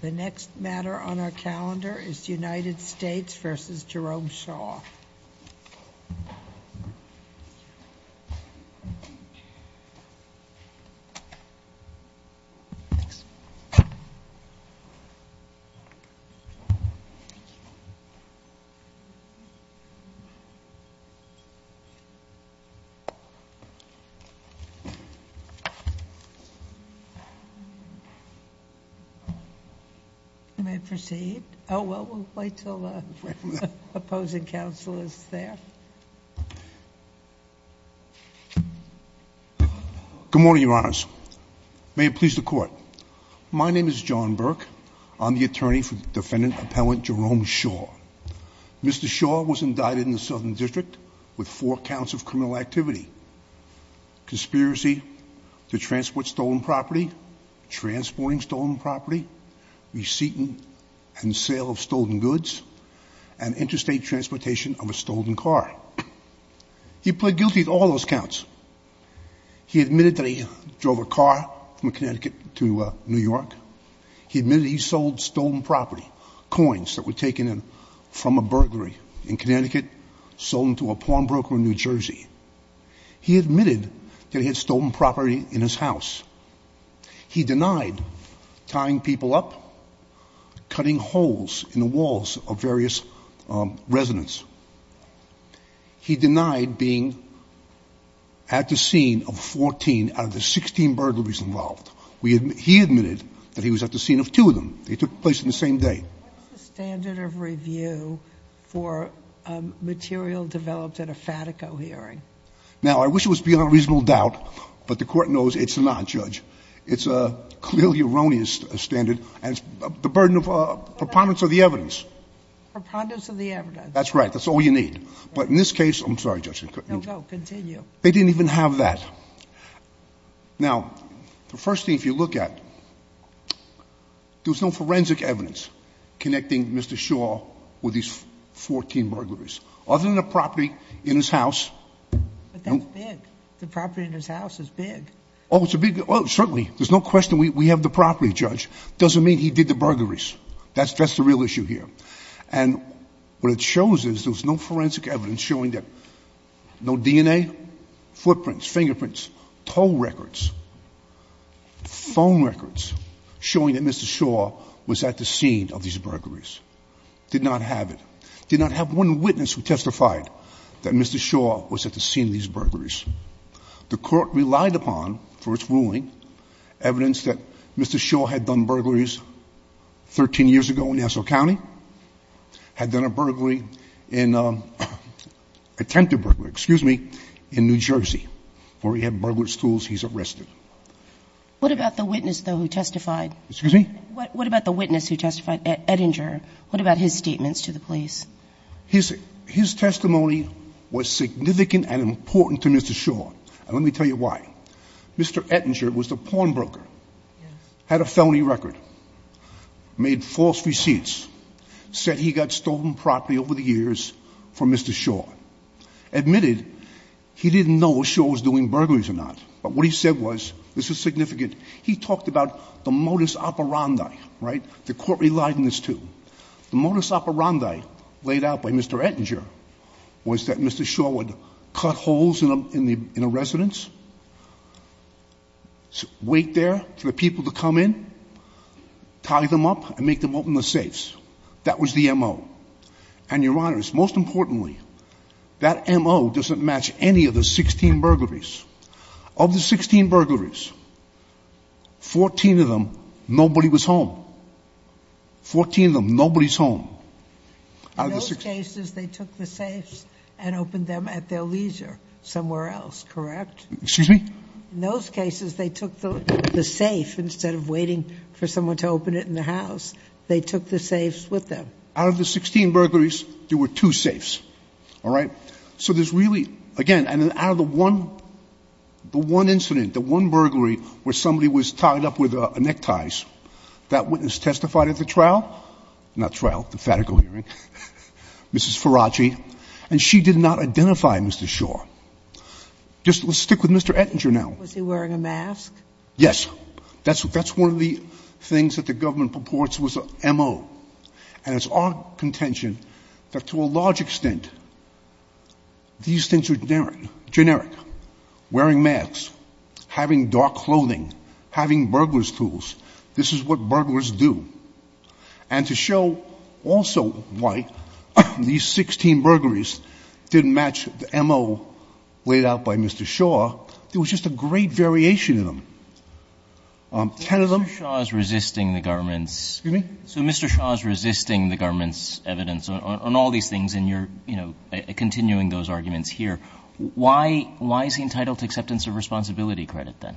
The next matter on our calendar is United States v. Jerome Shaw. You may proceed. Oh, well, we'll wait till the opposing counsel is there. Good morning, Your Honors. May it please the Court. My name is John Burke. I'm the attorney for defendant-appellant Jerome Shaw. Mr. Shaw was indicted in the Southern District with four counts of criminal activity. Conspiracy to transport stolen property, transporting stolen property, receipt and sale of stolen goods, and interstate transportation of a stolen car. He pled guilty to all those counts. He admitted that he drove a car from Connecticut to New York. He admitted he sold stolen property, coins that were taken from a burglary in Connecticut, sold them to a pawnbroker in New Jersey. He admitted that he had stolen property in his house. He denied tying people up, cutting holes in the walls of various residents. He denied being at the scene of 14 out of the 16 burglaries involved. He admitted that he was at the scene of two of them. He took place on the same day. What's the standard of review for material developed at a Fatico hearing? Now, I wish it was beyond reasonable doubt, but the Court knows it's not, Judge. It's a clearly erroneous standard, and it's the burden of preponderance of the evidence. Preponderance of the evidence. That's right. That's all you need. But in this case, I'm sorry, Judge. No, go. Continue. They didn't even have that. Now, the first thing, if you look at it, there's no forensic evidence connecting Mr. Shaw with these 14 burglaries. Other than the property in his house. But that's big. The property in his house is big. Oh, it's a big, certainly. There's no question we have the property, Judge. Doesn't mean he did the burglaries. That's the real issue here. And what it shows is there's no forensic evidence showing that, no DNA, footprints, fingerprints, toll records, phone records showing that Mr. Shaw was at the scene of these burglaries. Did not have it. Did not have one witness who testified that Mr. Shaw was at the scene of these burglaries. The court relied upon, for its ruling, evidence that Mr. Shaw had done burglaries 13 years ago in Nassau County. Had done a burglary, attempted burglary, excuse me, in New Jersey. Where he had burglarous tools, he's arrested. What about the witness, though, who testified? Excuse me? What about the witness who testified, Edinger? What about his statements to the police? His testimony was significant and important to Mr. Shaw. And let me tell you why. Mr. Edinger was the pawnbroker. Had a felony record. Made false receipts. Said he got stolen property over the years from Mr. Shaw. Admitted he didn't know if Shaw was doing burglaries or not. But what he said was, this is significant, he talked about the modus operandi, right? The court relied on this, too. The modus operandi laid out by Mr. Edinger was that Mr. Shaw would cut holes in a residence, wait there for the people to come in, tie them up, and make them open the safes. That was the M.O. And, Your Honors, most importantly, that M.O. doesn't match any of the 16 burglaries. Of the 16 burglaries, 14 of them, nobody was home. 14 of them, nobody's home. In those cases, they took the safes and opened them at their leisure somewhere else, correct? Excuse me? In those cases, they took the safe instead of waiting for someone to open it in the house. They took the safes with them. Out of the 16 burglaries, there were two safes. All right? So there's really, again, out of the one incident, the one burglary where somebody was tied up with neckties, that witness testified at the trial, not trial, the fatigal hearing, Mrs. Faragi, and she did not identify Mr. Shaw. Just stick with Mr. Edinger now. Was he wearing a mask? Yes. That's one of the things that the government purports was M.O. And it's our contention that to a large extent, these things are generic. Wearing masks, having dark clothing, having burglar's tools. This is what burglars do. And to show also why these 16 burglaries didn't match the M.O. laid out by Mr. Shaw, there was just a great variation in them. Ten of them. So Mr. Shaw is resisting the government's evidence on all these things, and you're, you know, continuing those arguments here. Why is he entitled to acceptance of responsibility credit, then?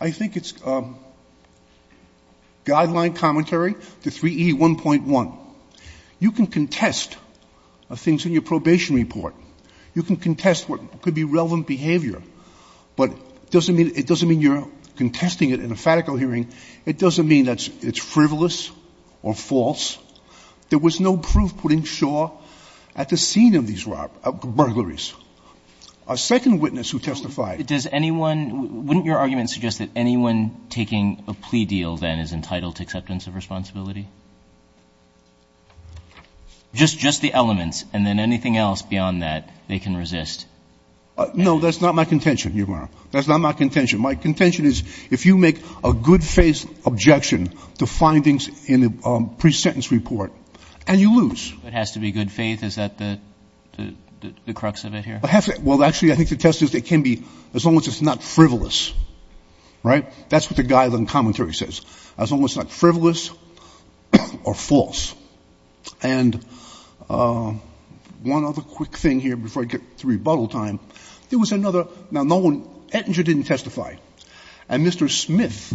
I think it's guideline commentary to 3E1.1. You can contest things in your probation report. You can contest what could be relevant behavior, but it doesn't mean you're contesting it in a fatigal hearing. It doesn't mean that it's frivolous or false. There was no proof putting Shaw at the scene of these burglaries. A second witness who testified. Does anyone – wouldn't your argument suggest that anyone taking a plea deal, then, is entitled to acceptance of responsibility? Just the elements, and then anything else beyond that they can resist. No, that's not my contention, Your Honor. That's not my contention. My contention is if you make a good-faith objection to findings in the pre-sentence report, and you lose. It has to be good faith? Is that the crux of it here? Well, actually, I think the test is it can be as long as it's not frivolous, right? That's what the guideline commentary says, as long as it's not frivolous or false. And one other quick thing here before I get to rebuttal time. There was another – now, no one – Ettinger didn't testify. And Mr. Smith,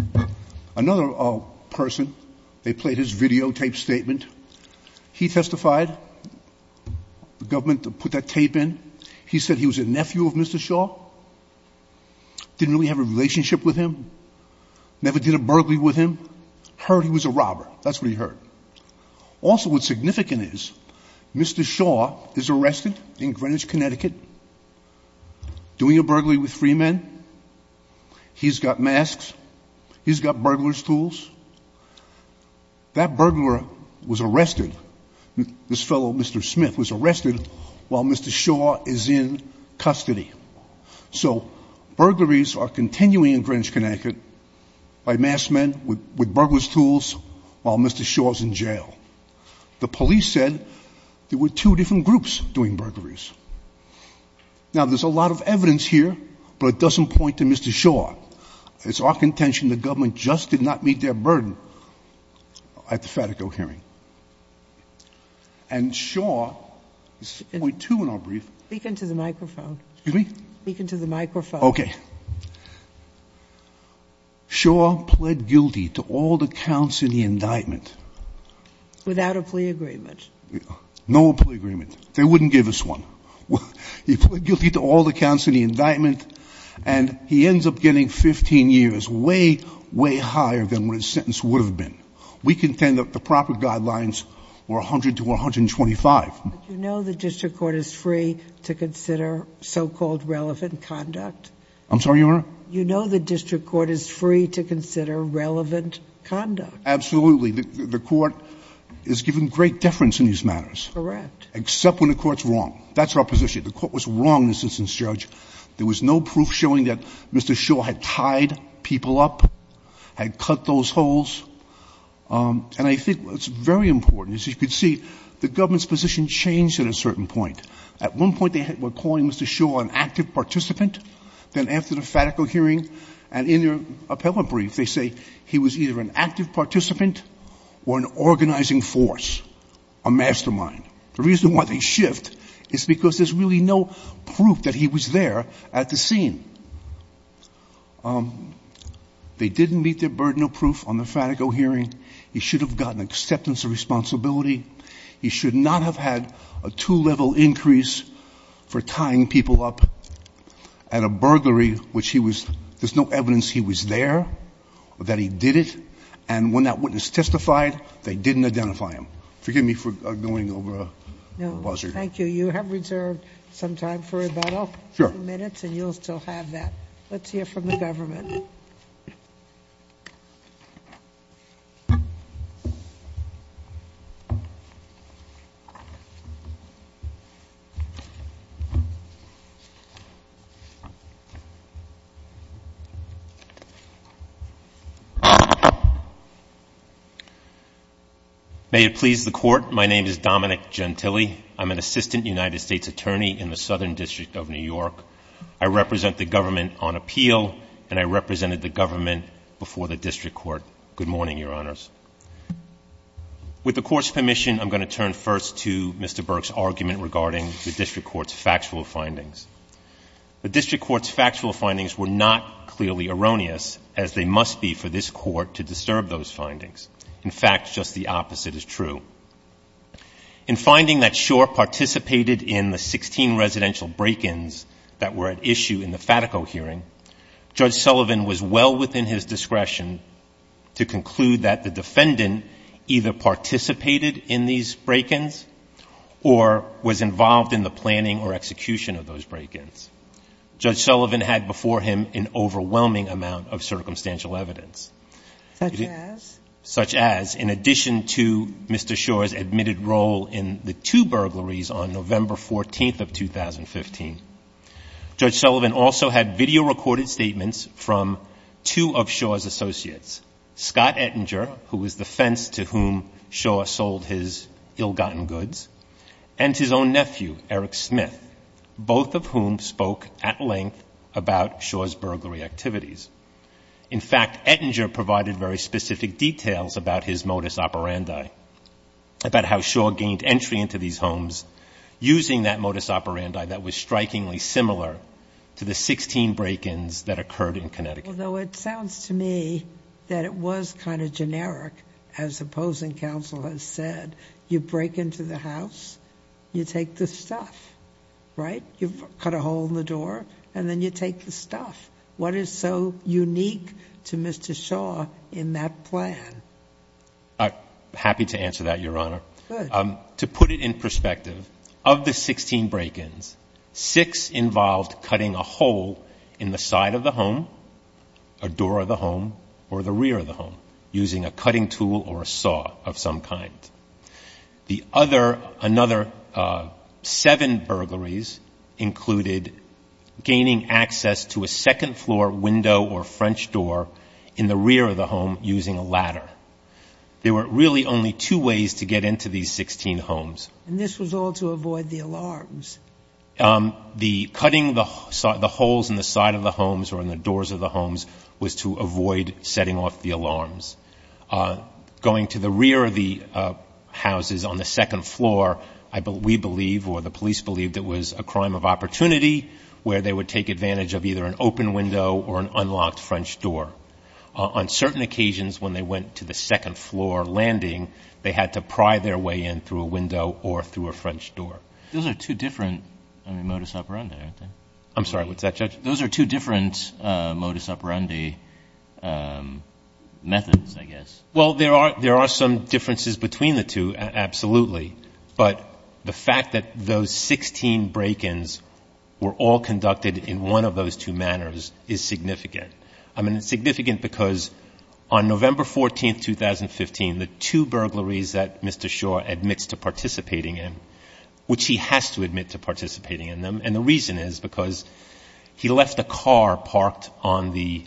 another person, they played his videotape statement. He testified. The government put that tape in. He said he was a nephew of Mr. Shaw. Didn't really have a relationship with him. Never did a burglary with him. Heard he was a robber. That's what he heard. Also, what's significant is Mr. Shaw is arrested in Greenwich, Connecticut, doing a burglary with free men. He's got masks. He's got burglar's tools. That burglar was arrested. This fellow, Mr. Smith, was arrested while Mr. Shaw is in custody. So burglaries are continuing in Greenwich, Connecticut, by masked men, with burglar's tools, while Mr. Shaw is in jail. The police said there were two different groups doing burglaries. Now, there's a lot of evidence here, but it doesn't point to Mr. Shaw. It's our contention the government just did not meet their burden at the Fatico hearing. And Shaw – this is point two in our brief. Speak into the microphone. Excuse me? Speak into the microphone. Okay. Shaw pled guilty to all the counts in the indictment. Without a plea agreement. No plea agreement. They wouldn't give us one. He pled guilty to all the counts in the indictment, and he ends up getting 15 years, way, way higher than what his sentence would have been. We contend that the proper guidelines were 100 to 125. But you know the district court is free to consider so-called relevant conduct? I'm sorry, Your Honor? You know the district court is free to consider relevant conduct? Absolutely. The court is given great deference in these matters. Correct. Except when the court's wrong. That's our position. The court was wrong in this instance, Judge. There was no proof showing that Mr. Shaw had tied people up, had cut those holes. And I think it's very important, as you can see, the government's position changed at a certain point. At one point they were calling Mr. Shaw an active participant. Then after the fatical hearing and in their appellate brief, they say he was either an active participant or an organizing force, a mastermind. The reason why they shift is because there's really no proof that he was there at the scene. They didn't meet their burden of proof on the fatical hearing. He should have gotten acceptance of responsibility. He should not have had a two-level increase for tying people up at a burglary, which he was ‑‑ there's no evidence he was there, that he did it. And when that witness testified, they didn't identify him. Forgive me for going over a buzzer. No, thank you. You have reserved some time for rebuttal. Sure. You have five minutes, and you'll still have that. Let's hear from the government. May it please the Court, my name is Dominic Gentile. I'm an assistant United States attorney in the Southern District of New York. I represent the government on appeal, and I represented the government before the District Court. Good morning, Your Honors. With the Court's permission, I'm going to turn first to Mr. Burke's argument regarding the District Court's factual findings. The District Court's factual findings were not clearly erroneous, as they must be for this Court to disturb those findings. In fact, just the opposite is true. In finding that Schor participated in the 16 residential break-ins that were at issue in the Fatico hearing, Judge Sullivan was well within his discretion to conclude that the defendant either participated in these break-ins or was involved in the planning or execution of those break-ins. Judge Sullivan had before him an overwhelming amount of circumstantial evidence. Such as? Such as, in addition to Mr. Schor's admitted role in the two burglaries on November 14th of 2015, Judge Sullivan also had video-recorded statements from two of Schor's associates, Scott Ettinger, who was the fence to whom Schor sold his ill-gotten goods, and his own nephew, Eric Smith, both of whom spoke at length about Schor's burglary activities. In fact, Ettinger provided very specific details about his modus operandi, about how Schor gained entry into these homes using that modus operandi that was strikingly similar to the 16 break-ins that occurred in Connecticut. Although it sounds to me that it was kind of generic, as opposing counsel has said. You break into the house, you take the stuff, right? You've cut a hole in the door, and then you take the stuff. What is so unique to Mr. Schor in that plan? I'm happy to answer that, Your Honor. Good. To put it in perspective, of the 16 break-ins, six involved cutting a hole in the side of the home, a door of the home, or the rear of the home, using a cutting tool or a saw of some kind. The other, another seven burglaries included gaining access to a second-floor window or French door in the rear of the home using a ladder. There were really only two ways to get into these 16 homes. And this was all to avoid the alarms. The cutting the holes in the side of the homes or in the doors of the homes was to avoid setting off the alarms. Going to the rear of the houses on the second floor, we believe, or the police believed it was a crime of opportunity, where they would take advantage of either an open window or an unlocked French door. On certain occasions, when they went to the second-floor landing, they had to pry their way in through a window or through a French door. Those are two different, I mean, modus operandi, aren't they? I'm sorry, what's that, Judge? Those are two different modus operandi methods, I guess. Well, there are some differences between the two, absolutely. But the fact that those 16 break-ins were all conducted in one of those two manners is significant. I mean, it's significant because on November 14, 2015, the two burglaries that Mr. Shaw admits to participating in, which he has to admit to participating in them, and the reason is because he left a car parked on the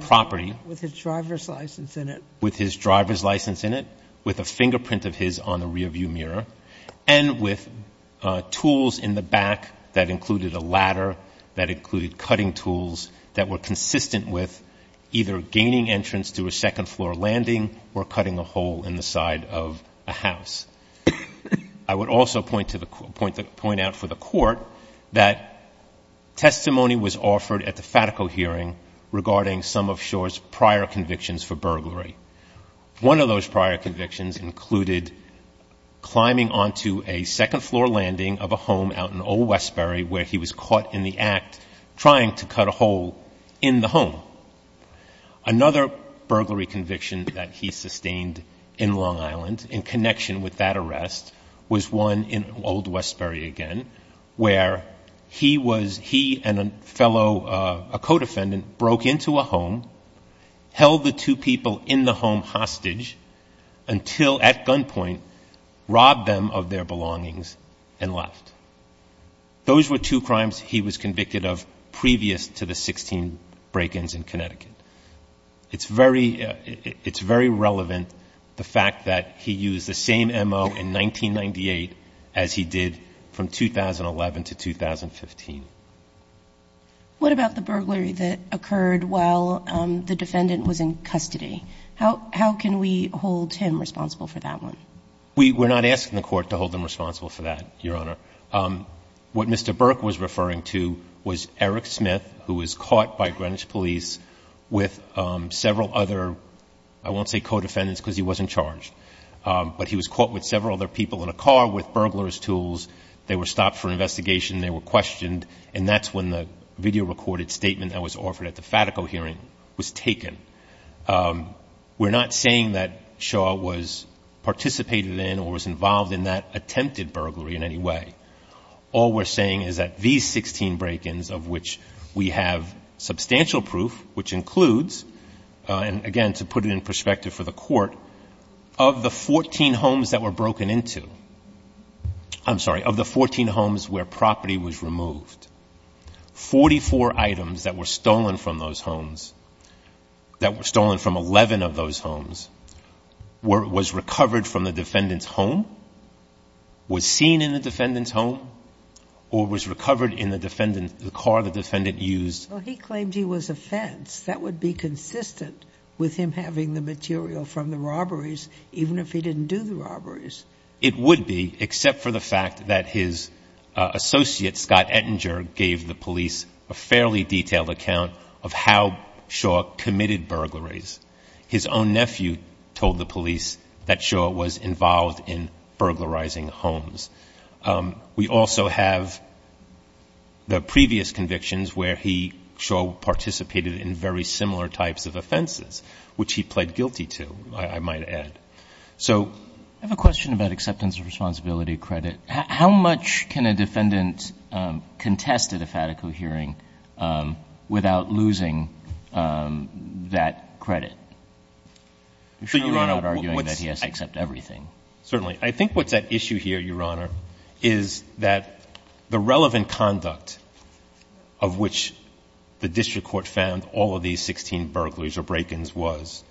property. With his driver's license in it. With his driver's license in it, with a fingerprint of his on the rear-view mirror, and with tools in the back that included a ladder, that included cutting tools, that were consistent with either gaining entrance to a second-floor landing or cutting a hole in the side of a house. I would also point out for the Court that testimony was offered at the FATCO hearing regarding some of Shaw's prior convictions for burglary. One of those prior convictions included climbing onto a second-floor landing of a home out in Old Westbury, where he was caught in the act trying to cut a hole in the home. Another burglary conviction that he sustained in Long Island, in connection with that arrest, was one in Old Westbury again, where he and a fellow, a co-defendant, broke into a home, held the two people in the home hostage until, at gunpoint, robbed them of their belongings and left. Those were two crimes he was convicted of previous to the 16 break-ins in Connecticut. It's very relevant, the fact that he used the same M.O. in 1998 as he did from 2011 to 2015. What about the burglary that occurred while the defendant was in custody? How can we hold him responsible for that one? We're not asking the Court to hold them responsible for that, Your Honor. What Mr. Burke was referring to was Eric Smith, who was caught by Greenwich police with several other, I won't say co-defendants because he wasn't charged, but he was caught with several other people in a car with burglar's tools. They were stopped for investigation. They were questioned, and that's when the video-recorded statement that was offered at the FATCO hearing was taken. We're not saying that Shaw was participated in or was involved in that attempted burglary in any way. All we're saying is that these 16 break-ins, of which we have substantial proof, which includes, and again, to put it in perspective for the Court, of the 14 homes that were broken into, I'm sorry, of the 14 homes where property was removed, 44 items that were stolen from those homes, that were stolen from 11 of those homes, was recovered from the defendant's home, was seen in the defendant's home, or was recovered in the car the defendant used. Well, he claimed he was a fence. That would be consistent with him having the material from the robberies, even if he didn't do the robberies. It would be, except for the fact that his associate, Scott Ettinger, gave the police a fairly detailed account of how Shaw committed burglaries. His own nephew told the police that Shaw was involved in burglarizing homes. We also have the previous convictions where he, Shaw, participated in very similar types of offenses, which he pled guilty to, I might add. I have a question about acceptance of responsibility credit. How much can a defendant contest at a FATICO hearing without losing that credit? I'm sure you're not arguing that he has to accept everything. Certainly. I think what's at issue here, Your Honor, is that the relevant conduct of which the district court found all of these 16 burglaries or break-ins was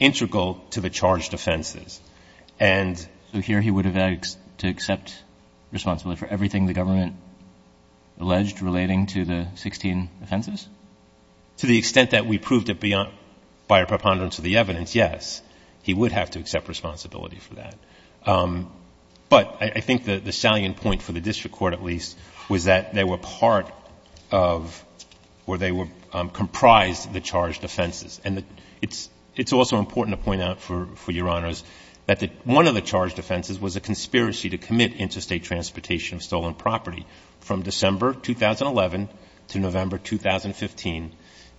integral to the charged offenses. So here he would have had to accept responsibility for everything the government alleged relating to the 16 offenses? To the extent that we proved it by a preponderance of the evidence, yes, he would have to accept responsibility for that. But I think the salient point, for the district court at least, was that they were comprised of the charged offenses. And it's also important to point out, for Your Honors, that one of the charged offenses was a conspiracy to commit interstate transportation of stolen property. From December 2011 to November 2015,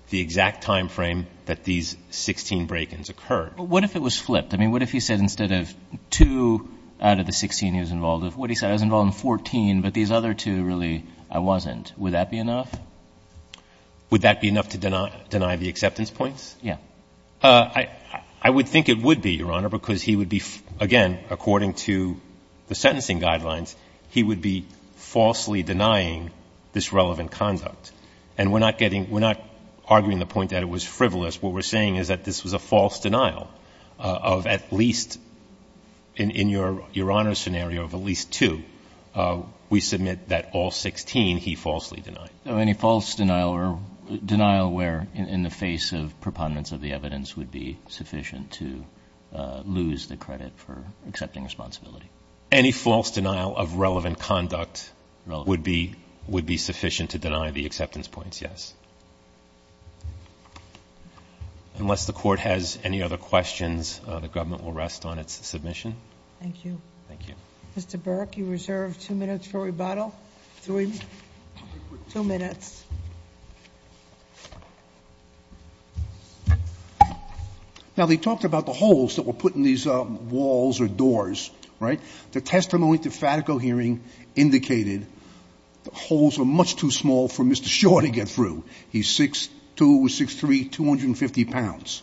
the exact time frame that these 16 break-ins occurred. But what if it was flipped? I mean, what if he said instead of two out of the 16 he was involved with, what if he said I was involved in 14, but these other two really I wasn't? Would that be enough? Would that be enough to deny the acceptance points? Yes. I would think it would be, Your Honor, because he would be, again, according to the sentencing guidelines, he would be falsely denying this relevant conduct. And we're not getting – we're not arguing the point that it was frivolous. What we're saying is that this was a false denial of at least, in Your Honor's scenario, of at least two. We submit that all 16 he falsely denied. Any false denial or denial where, in the face of preponderance of the evidence, would be sufficient to lose the credit for accepting responsibility? Any false denial of relevant conduct would be sufficient to deny the acceptance points, yes. Unless the Court has any other questions, the government will rest on its submission. Thank you. Thank you. Mr. Burke, you reserve two minutes for rebuttal. Two minutes. Now, they talked about the holes that were put in these walls or doors, right? The testimony at the Fatico hearing indicated the holes were much too small for Mr. Shaw to get through. He's 6'2", 6'3", 250 pounds.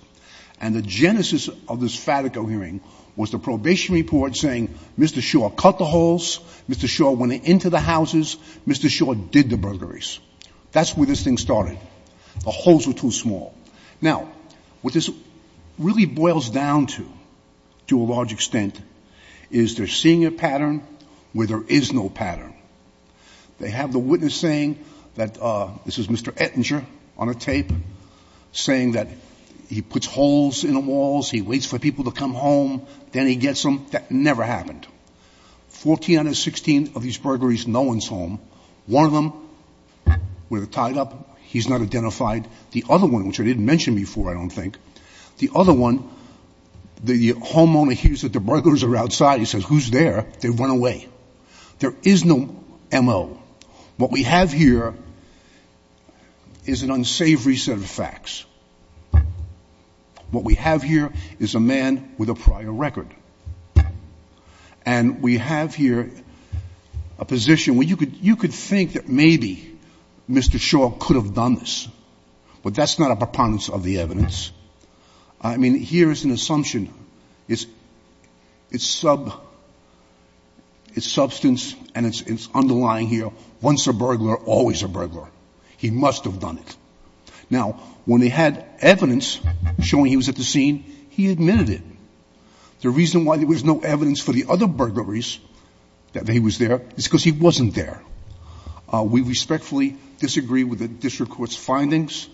And the genesis of this Fatico hearing was the probation report saying Mr. Shaw cut the holes, Mr. Shaw went into the houses, Mr. Shaw did the burglaries. That's where this thing started. The holes were too small. Now, what this really boils down to, to a large extent, is they're seeing a pattern where there is no pattern. They have the witness saying that this is Mr. Ettinger on a tape saying that he puts holes in the walls, he waits for people to come home, then he gets them. That never happened. Fourteen out of 16 of these burglaries, no one's home. One of them, with it tied up, he's not identified. The other one, which I didn't mention before, I don't think, the other one, the homeowner hears that the burglaries are outside. He says, who's there? They run away. There is no M.O. What we have here is an unsavory set of facts. What we have here is a man with a prior record. And we have here a position where you could think that maybe Mr. Shaw could have done this. But that's not a preponderance of the evidence. I mean, here is an assumption. It's substance and it's underlying here. Once a burglar, always a burglar. He must have done it. Now, when they had evidence showing he was at the scene, he admitted it. The reason why there was no evidence for the other burglaries that he was there is because he wasn't there. We respectfully disagree with the district court's findings.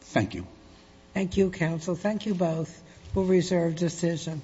Thank you. Thank you, counsel. Thank you both. We'll reserve decision.